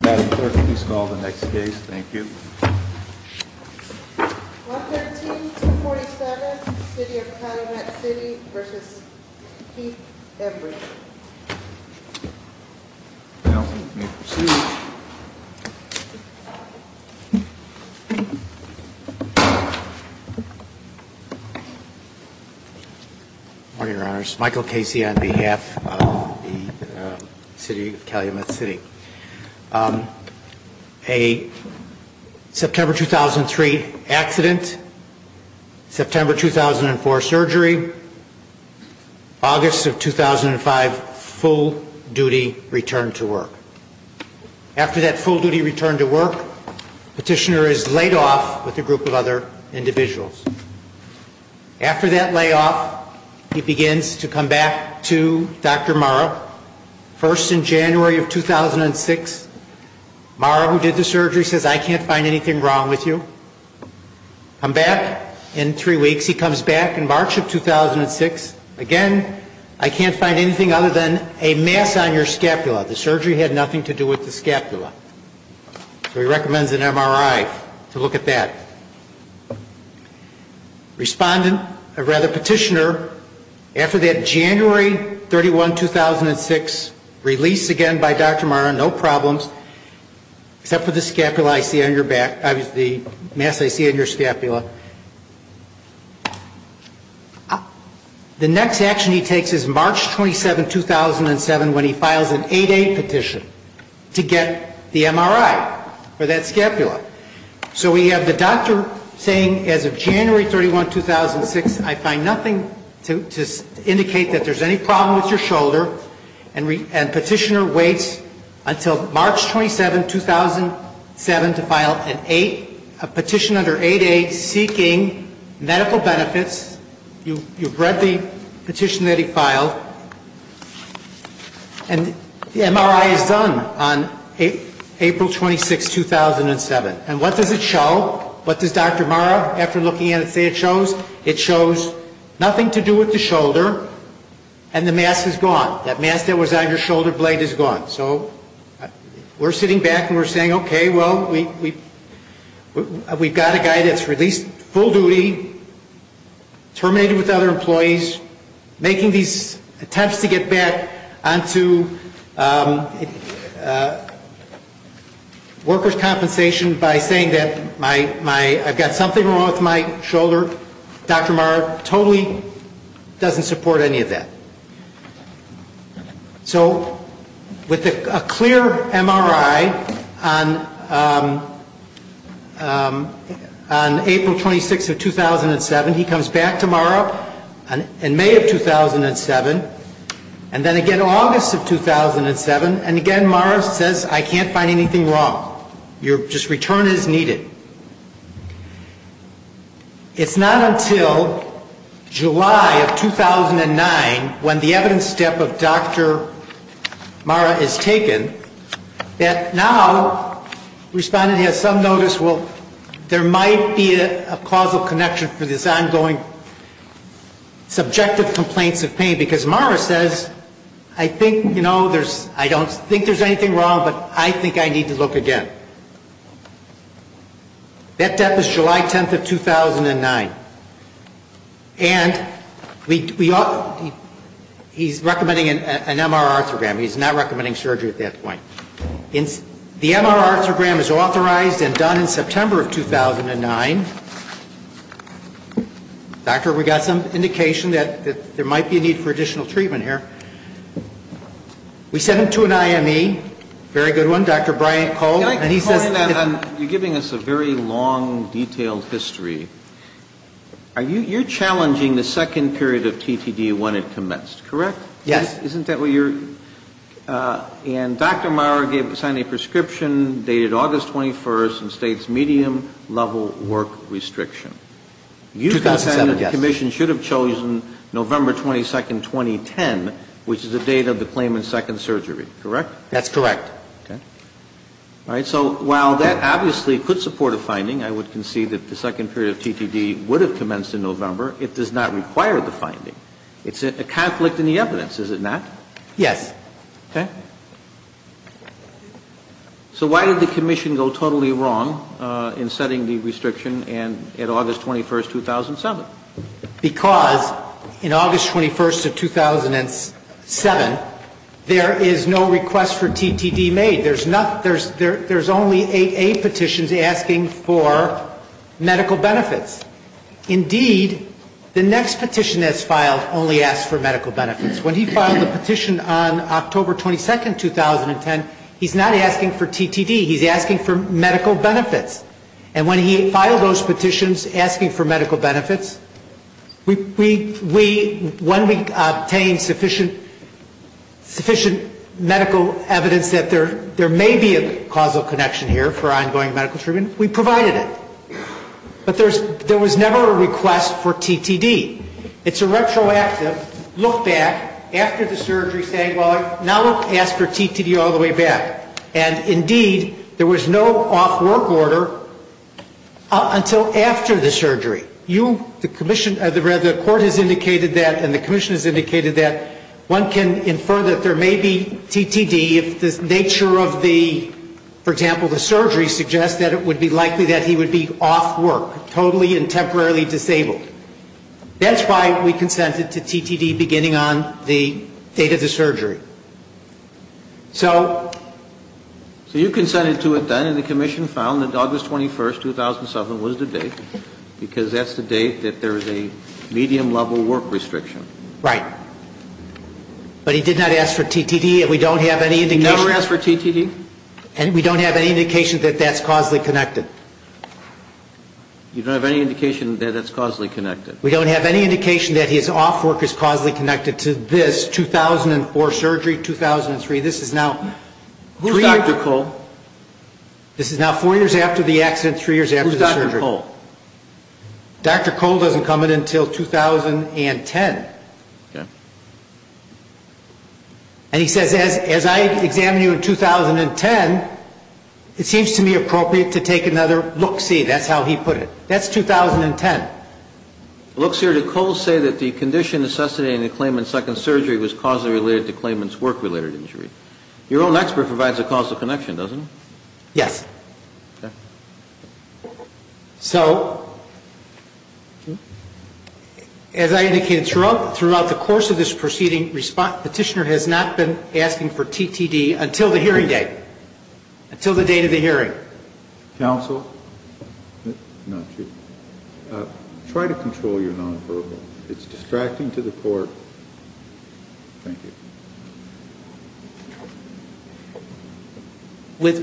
Madam Clerk, please call the next case. Thank you. 113-247, City of Calumet City v. Keith Embrey Counsel, you may proceed. Good morning, your honors. Michael Casey on behalf of the City of Calumet City. A September 2003 accident, September 2004 surgery, August of 2005 full duty return to work. After that full duty return to work, petitioner is laid off with a group of other individuals. After that layoff, he begins to come back to Dr. Mara. First in January of 2006, Mara who did the surgery says, I can't find anything wrong with you. Come back in three weeks. He comes back in March of 2006. Again, I can't find anything other than a mass on your scapula. The surgery had nothing to do with the scapula. So he recommends an MRI to look at that. Respondent, or rather petitioner, after that January 31, 2006 release again by Dr. Mara, no problems. Except for the scapula I see on your back, the mass I see on your scapula. The next action he takes is March 27, 2007 when he files an 8-8 petition to get the MRI for that scapula. So we have the doctor saying as of January 31, 2006, I find nothing to indicate that there's any problem with your shoulder. And petitioner waits until March 27, 2007 to file an 8, a petition under 8-8 seeking medical benefits. You've read the petition that he filed. And the MRI is done on April 26, 2007. And what does it show? What does Dr. Mara, after looking at it, say it shows? It shows nothing to do with the shoulder and the mass is gone. That mass that was on your shoulder blade is gone. So we're sitting back and we're saying, okay, well, we've got a guy that's released full duty, terminated with other employees, making these attempts to get back onto workers' compensation by saying that I've got something wrong with my shoulder. Dr. Mara totally doesn't support any of that. So with a clear MRI on April 26 of 2007, he comes back to Mara in May of 2007, and then again August of 2007, and again Mara says I can't find anything wrong. Your return is needed. It's not until July of 2009, when the evidence step of Dr. Mara is taken, that now respondent has some notice, well, there might be a causal connection for this ongoing subjective complaints of pain, because Mara says, I think, you know, there's, I don't think there's anything wrong, but I think I need to look again. That death is July 10 of 2009. And we ought, he's recommending an MR arthrogram. He's not recommending surgery at that point. The MR arthrogram is authorized and done in September of 2009. Doctor, we got some indication that there might be a need for additional treatment here. We sent him to an IME, very good one, Dr. Brian Cole. Can I comment on, you're giving us a very long, detailed history. You're challenging the second period of TTD when it commenced, correct? Yes. Isn't that what you're, and Dr. Mara gave, signed a prescription dated August 21st and states medium-level work restriction. 2007, yes. So the commission should have chosen November 22nd, 2010, which is the date of the claimant's second surgery, correct? That's correct. Okay. All right. So while that obviously could support a finding, I would concede that the second period of TTD would have commenced in November. It does not require the finding. It's a conflict in the evidence, is it not? Yes. Okay. So why did the commission go totally wrong in setting the restriction at August 21st, 2007? Because in August 21st of 2007, there is no request for TTD made. There's only 8A petitions asking for medical benefits. Indeed, the next petition that's filed only asks for medical benefits. When he filed the petition on October 22nd, 2010, he's not asking for TTD. He's asking for medical benefits. And when he filed those petitions asking for medical benefits, we, when we obtained sufficient medical evidence that there may be a causal connection here for ongoing medical treatment, we provided it. But there was never a request for TTD. It's a retroactive look back after the surgery saying, well, now look, ask for TTD all the way back. And, indeed, there was no off-work order until after the surgery. You, the commission, the court has indicated that and the commission has indicated that one can infer that there may be TTD if the nature of the, for example, the surgery suggests that it would be likely that he would be off-work, totally and temporarily disabled. That's why we consented to TTD beginning on the date of the surgery. So... So you consented to it then and the commission found that August 21st, 2007 was the date because that's the date that there is a medium-level work restriction. Right. But he did not ask for TTD and we don't have any indication... He never asked for TTD? And we don't have any indication that that's causally connected. You don't have any indication that that's causally connected? We don't have any indication that his off-work is causally connected to this 2004 surgery, 2003. This is now... Who's Dr. Cole? This is now four years after the accident, three years after the surgery. Who's Dr. Cole? Dr. Cole doesn't come in until 2010. Okay. And he says, as I examine you in 2010, it seems to me appropriate to take another look-see. That's how he put it. That's 2010. It looks here that Cole said that the condition necessitating the claimant's second surgery was causally related to the claimant's work-related injury. Your own expert provides a causal connection, doesn't he? Yes. Okay. So, as I indicated throughout the course of this proceeding, Petitioner has not been asking for TTD until the hearing date, until the date of the hearing. Counsel, try to control your nonverbal. It's distracting to the court. Thank you.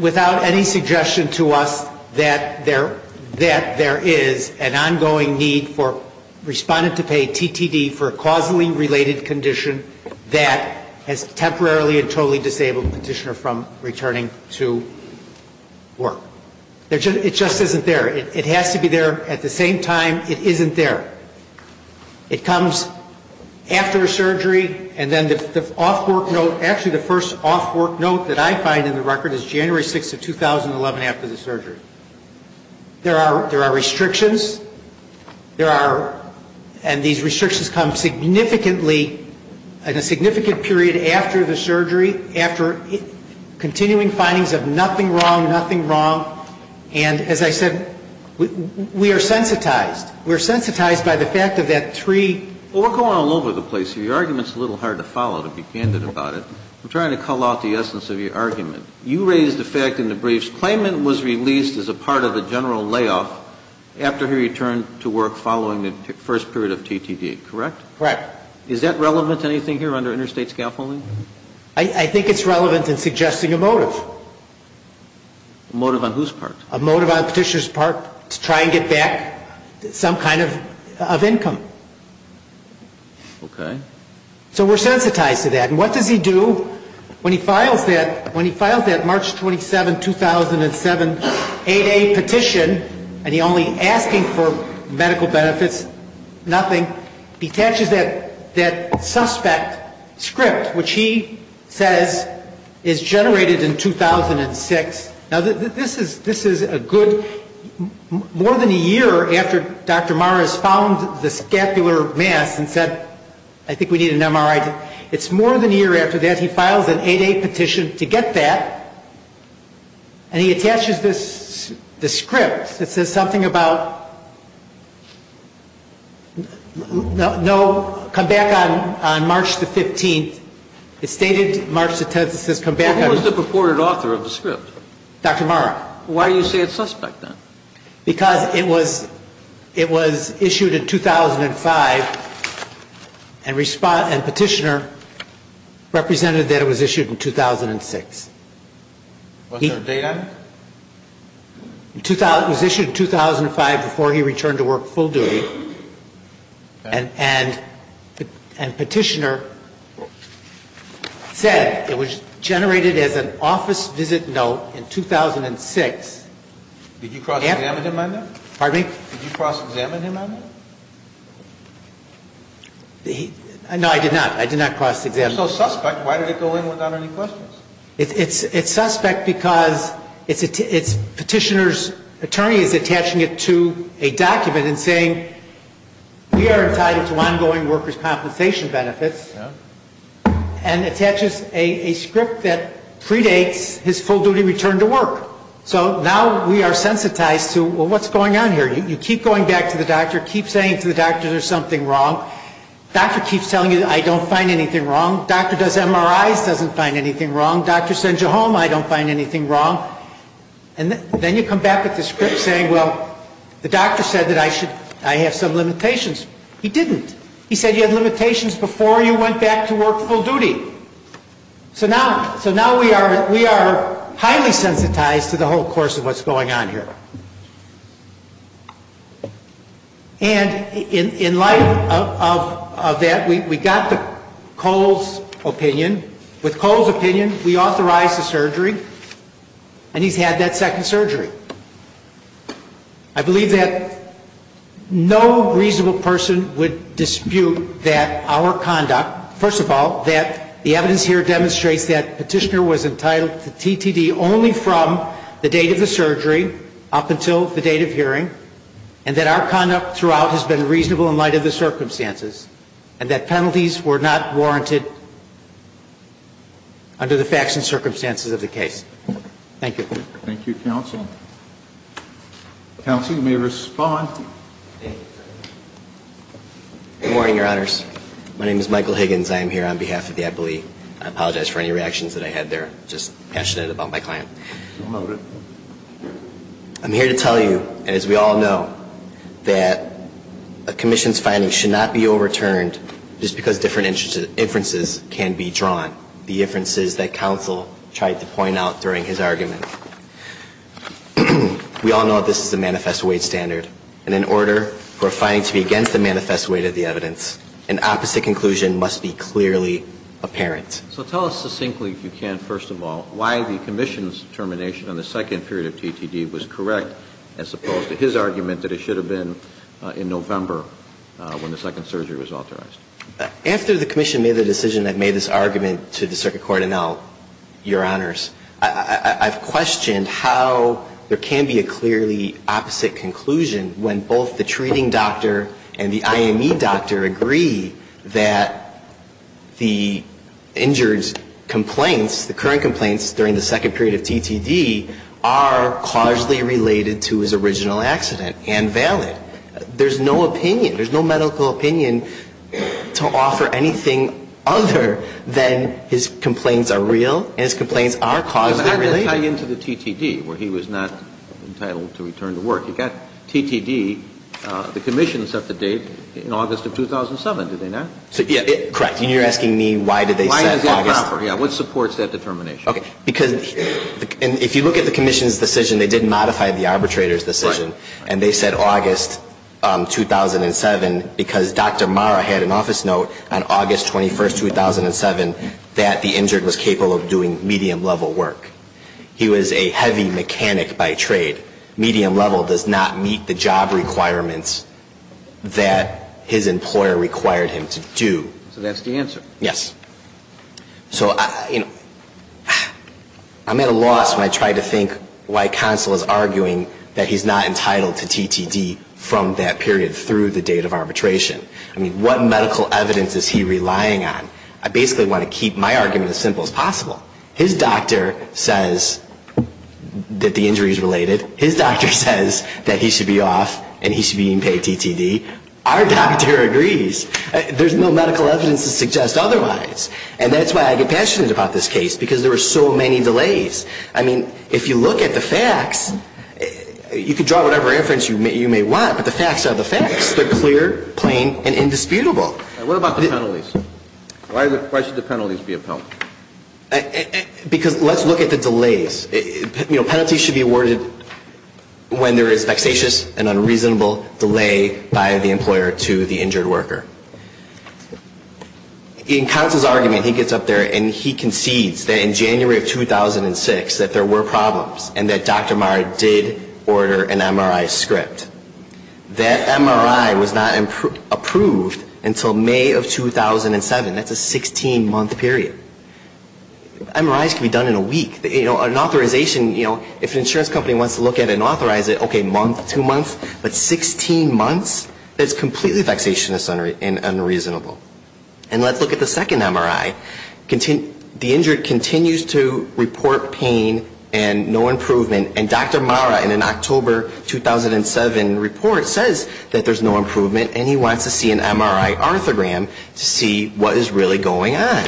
Without any suggestion to us that there is an ongoing need for respondent to pay TTD for a causally related condition that has temporarily and totally disabled Petitioner from returning to work. It just isn't there. It has to be there at the same time it isn't there. It comes after a surgery, and then the off-work note, actually the first off-work note that I find in the record is January 6th of 2011 after the surgery. There are restrictions. There are, and these restrictions come significantly, in a significant period after the surgery, after continuing findings of nothing wrong, nothing wrong. And, as I said, we are sensitized. We are sensitized by the fact of that three. Well, we're going all over the place here. Your argument is a little hard to follow, to be candid about it. I'm trying to call out the essence of your argument. You raised the fact in the briefs, claimant was released as a part of the general layoff after he returned to work following the first period of TTD, correct? Correct. Is that relevant to anything here under interstate scaffolding? I think it's relevant in suggesting a motive. A motive on whose part? A motive on Petitioner's part to try and get back. Some kind of income. Okay. So we're sensitized to that. And what does he do when he files that March 27, 2007, 8A petition, and he's only asking for medical benefits, nothing? He attaches that suspect script, which he says is generated in 2006. Now, this is a good ñ more than a year after Dr. Morris found the scapular mass and said, I think we need an MRI. It's more than a year after that he files an 8A petition to get that. And he attaches this script that says something about, no, come back on March the 15th. It stated March the 10th. It says, come back on ñ Who was the purported author of the script? Dr. Mark. Why do you say it's suspect, then? Because it was issued in 2005, and Petitioner represented that it was issued in 2006. Was there a date on it? It was issued in 2005 before he returned to work full due, and Petitioner said it was generated as an office visit note in 2006. Did you cross-examine him on that? Pardon me? Did you cross-examine him on that? No, I did not. I did not cross-examine him. If it's so suspect, why did it go in without any questions? It's suspect because Petitioner's attorney is attaching it to a document and saying, we are entitled to ongoing workers' compensation benefits, and attaches a script that predates his full-duty return to work. So now we are sensitized to, well, what's going on here? You keep going back to the doctor, keep saying to the doctor there's something wrong. Doctor keeps telling you, I don't find anything wrong. Doctor does MRIs, doesn't find anything wrong. Doctor sends you home, I don't find anything wrong. And then you come back with this script saying, well, the doctor said that I have some limitations. He didn't. He said you had limitations before you went back to work full duty. So now we are highly sensitized to the whole course of what's going on here. And in light of that, we got Cole's opinion. With Cole's opinion, we authorized the surgery, and he's had that second surgery. I believe that no reasonable person would dispute that our conduct, first of all, that the evidence here demonstrates that Petitioner was entitled to TTD only from the date of the surgery, up until the date of hearing, and that our conduct throughout has been reasonable in light of the circumstances, and that penalties were not warranted under the facts and circumstances of the case. Thank you. Thank you, counsel. Counsel, you may respond. Good morning, Your Honors. My name is Michael Higgins. I am here on behalf of the Eppley. I apologize for any reactions that I had there, just passionate about my client. I'm here to tell you, as we all know, that a commission's finding should not be overturned just because different inferences can be drawn, the inferences that counsel tried to point out during his argument. We all know that this is a manifest weight standard, and in order for a finding to be against the manifest weight of the evidence, an opposite conclusion must be clearly apparent. So tell us succinctly, if you can, first of all, why the commission's determination on the second period of TTD was correct, as opposed to his argument that it should have been in November when the second surgery was authorized. After the commission made the decision that made this argument to the circuit court and now, Your Honors, I've questioned how there can be a clearly opposite conclusion when both the treating doctor and the IME doctor agree that the injured's complaints, the current complaints during the second period of TTD, are causally related to his original accident and valid. There's no opinion, there's no medical opinion to offer anything other than his complaints are causally related. Kennedy was not entitled to return to work. He got TTD, the commission set the date in August of 2007, did they not? Correct. And you're asking me why did they set August? Yeah, what supports that determination? Okay. Because if you look at the commission's decision, they did modify the arbitrator's decision, and they said August 2007 because Dr. Marra had an office note on August 2007. He was a heavy mechanic by trade. Medium level does not meet the job requirements that his employer required him to do. So that's the answer. Yes. So, you know, I'm at a loss when I try to think why counsel is arguing that he's not entitled to TTD from that period through the date of arbitration. I mean, what medical evidence is he relying on? I basically want to keep my argument as simple as possible. His doctor says that the injury is related. His doctor says that he should be off and he should be getting paid TTD. Our doctor agrees. There's no medical evidence to suggest otherwise. And that's why I get passionate about this case, because there were so many delays. I mean, if you look at the facts, you can draw whatever inference you may want, but the facts are the facts. They're clear, plain, and indisputable. What about the penalties? Why should the penalties be upheld? Because let's look at the delays. You know, penalties should be awarded when there is vexatious and unreasonable delay by the employer to the injured worker. In counsel's argument, he gets up there and he concedes that in January of 2006 that there were problems and that Dr. Maher did order an MRI script. That MRI was not approved until May of 2007. That's a 16-month period. MRIs can be done in a week. An authorization, you know, if an insurance company wants to look at it and authorize it, okay, month, two months, but 16 months? That's completely vexatious and unreasonable. And let's look at the second MRI. The injured continues to report pain and no improvement. And Dr. Maher, in an October 2007 report, says that there's no improvement and he wants to see an MRI arthrogram to see what is really going on.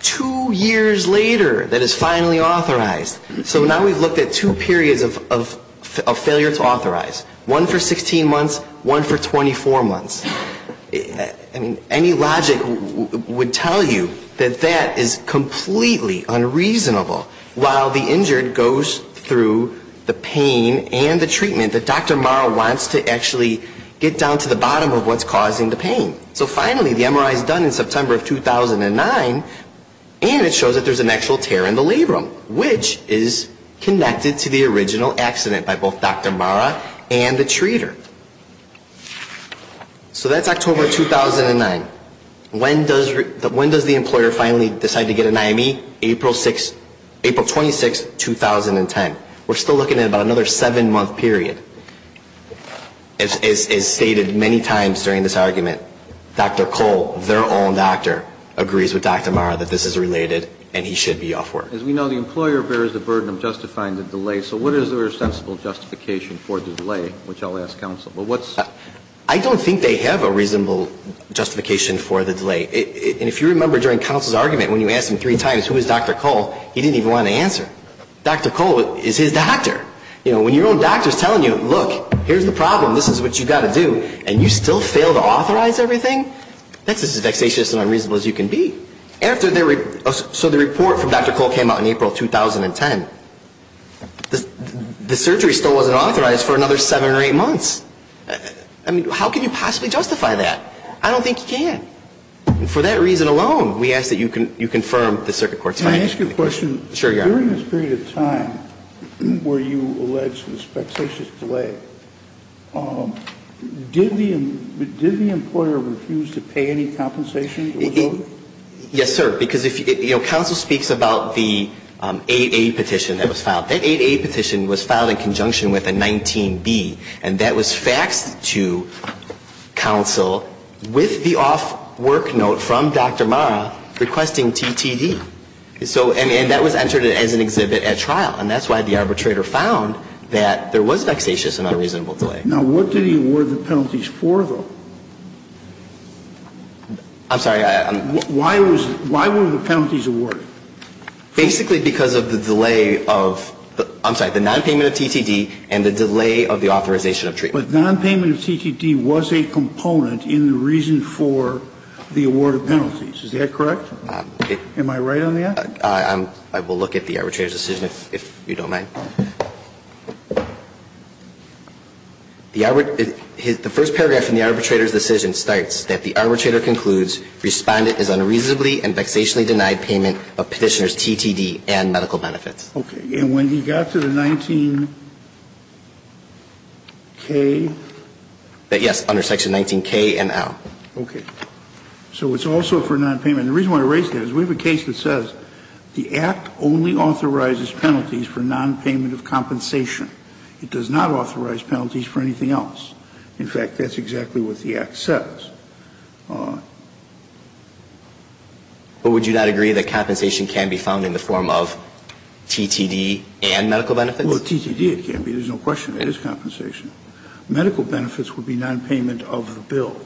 Two years later, that is finally authorized. So now we've looked at two periods of failure to authorize. One for 16 months, one for 24 months. I mean, any logic would tell you that that is completely unreasonable. While the injured goes through the pain and the treatment that Dr. Maher wants to actually get down to the bottom of what's causing the pain. So finally, the MRI is done in September of 2009, and it shows that there's an actual tear in the labrum, which is connected to the original accident by both Dr. Maher and the treater. So that's October 2009. When does the employer finally decide to get an IME? April 26, 2010. We're still looking at about another seven-month period. As stated many times during this argument, Dr. Cole, their own doctor, agrees with Dr. Maher that this is related and he should be off work. As we know, the employer bears the burden of justifying the delay. So what is their sensible justification for the delay, which I'll ask counsel? I don't think they have a reasonable justification for the delay. And if you remember during counsel's argument, when you asked him three times who is Dr. Cole, he didn't even want to answer. Dr. Cole is his doctor. When your own doctor is telling you, look, here's the problem, this is what you've got to do, and you still fail to authorize everything, that's as vexatious and unreasonable as you can be. So the report from Dr. Cole came out in April 2010. The surgery still wasn't authorized for another seven or eight months. I mean, how can you possibly justify that? I don't think you can. And for that reason alone, we ask that you confirm the circuit court's findings. Can I ask you a question? Sure, Your Honor. During this period of time where you allege the vexatious delay, did the employer refuse to pay any compensation? Yes, sir. Because, you know, counsel speaks about the 8A petition that was filed. That 8A petition was filed in conjunction with a 19B, and that was faxed to counsel with the off work note from Dr. Marra requesting TTD. And that was entered as an exhibit at trial. And that's why the arbitrator found that there was vexatious and unreasonable delay. Now, what did he award the penalties for, though? I'm sorry. Why were the penalties awarded? Basically because of the delay of the nonpayment of TTD and the delay of the authorization of treatment. But nonpayment of TTD was a component in the reason for the award of penalties. Is that correct? Am I right on that? I will look at the arbitrator's decision, if you don't mind. The first paragraph in the arbitrator's decision states that the arbitrator concludes Respondent is unreasonably and vexationally denied payment of Petitioner's TTD and medical benefits. Okay. And when he got to the 19K? Yes, under Section 19K and L. Okay. So it's also for nonpayment. The reason why I raise that is we have a case that says the Act only authorizes penalties for nonpayment of compensation. It does not authorize penalties for anything else. In fact, that's exactly what the Act says. But would you not agree that compensation can be found in the form of TTD and medical benefits? Well, TTD it can be. There's no question. It is compensation. Medical benefits would be nonpayment of the bill.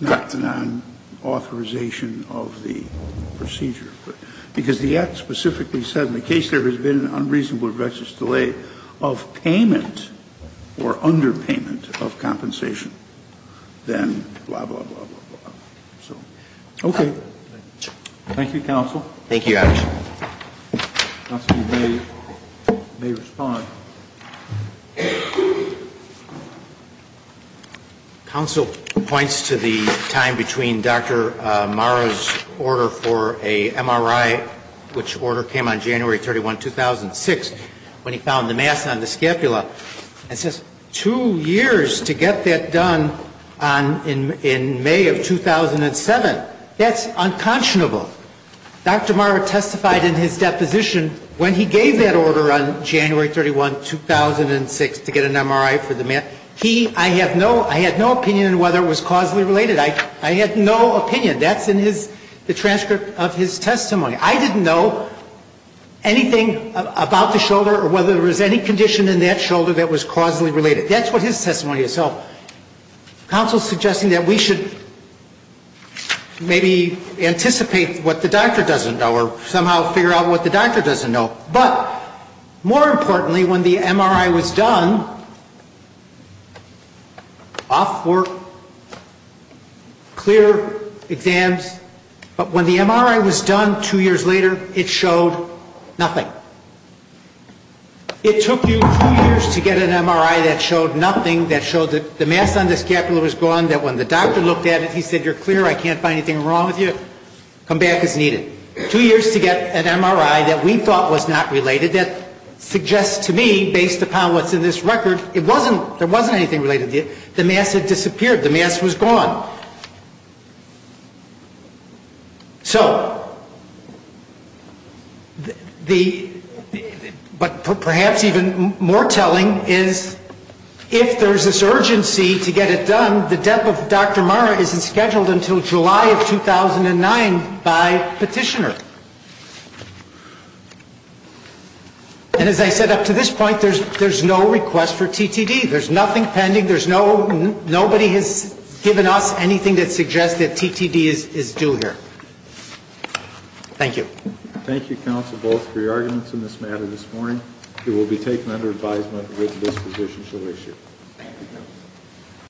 Correct. Not the nonauthorization of the procedure. Because the Act specifically said in the case there has been an unreasonable vexatious delay of payment or underpayment of compensation. Then blah, blah, blah, blah, blah. Okay. Thank you, counsel. Thank you. Counsel may respond. Counsel points to the time between Dr. Marra's order for an MRI, which order came on January 31, 2006, when he found the mass on the scapula and says two years to get that done in May of 2007. That's unconscionable. Dr. Marra testified in his deposition when he gave that order on January 31, 2006, to get an MRI for the mass. He, I have no, I had no opinion on whether it was causally related. I had no opinion. That's in his, the transcript of his testimony. I didn't know anything about the shoulder or whether there was any condition in that shoulder that was causally related. That's what his testimony is. So counsel is suggesting that we should maybe anticipate what the doctor doesn't know or somehow figure out what the doctor doesn't know. But more importantly, when the MRI was done, off work, clear exams, but when the MRI was done two years later, it showed nothing. It took you two years to get an MRI that showed nothing, that showed that the mass on the scapula was gone, that when the doctor looked at it, he said you're clear, I can't find anything wrong with you, come back as needed. Two years to get an MRI that we thought was not related. That suggests to me, based upon what's in this record, it wasn't, there wasn't anything related. The mass had disappeared. The mass was gone. So, the, but perhaps even more telling is if there's this urgency to get it done, the depth of Dr. Marra isn't scheduled until July of 2009 by petitioner. And as I said, up to this point, there's no request for TTD. There's nothing pending. There's no, nobody has given us anything that suggests that TTD is due here. Thank you. Thank you, counsel, both for your arguments in this matter this morning. It will be taken under advisement with this position shall issue. Thank you, counsel.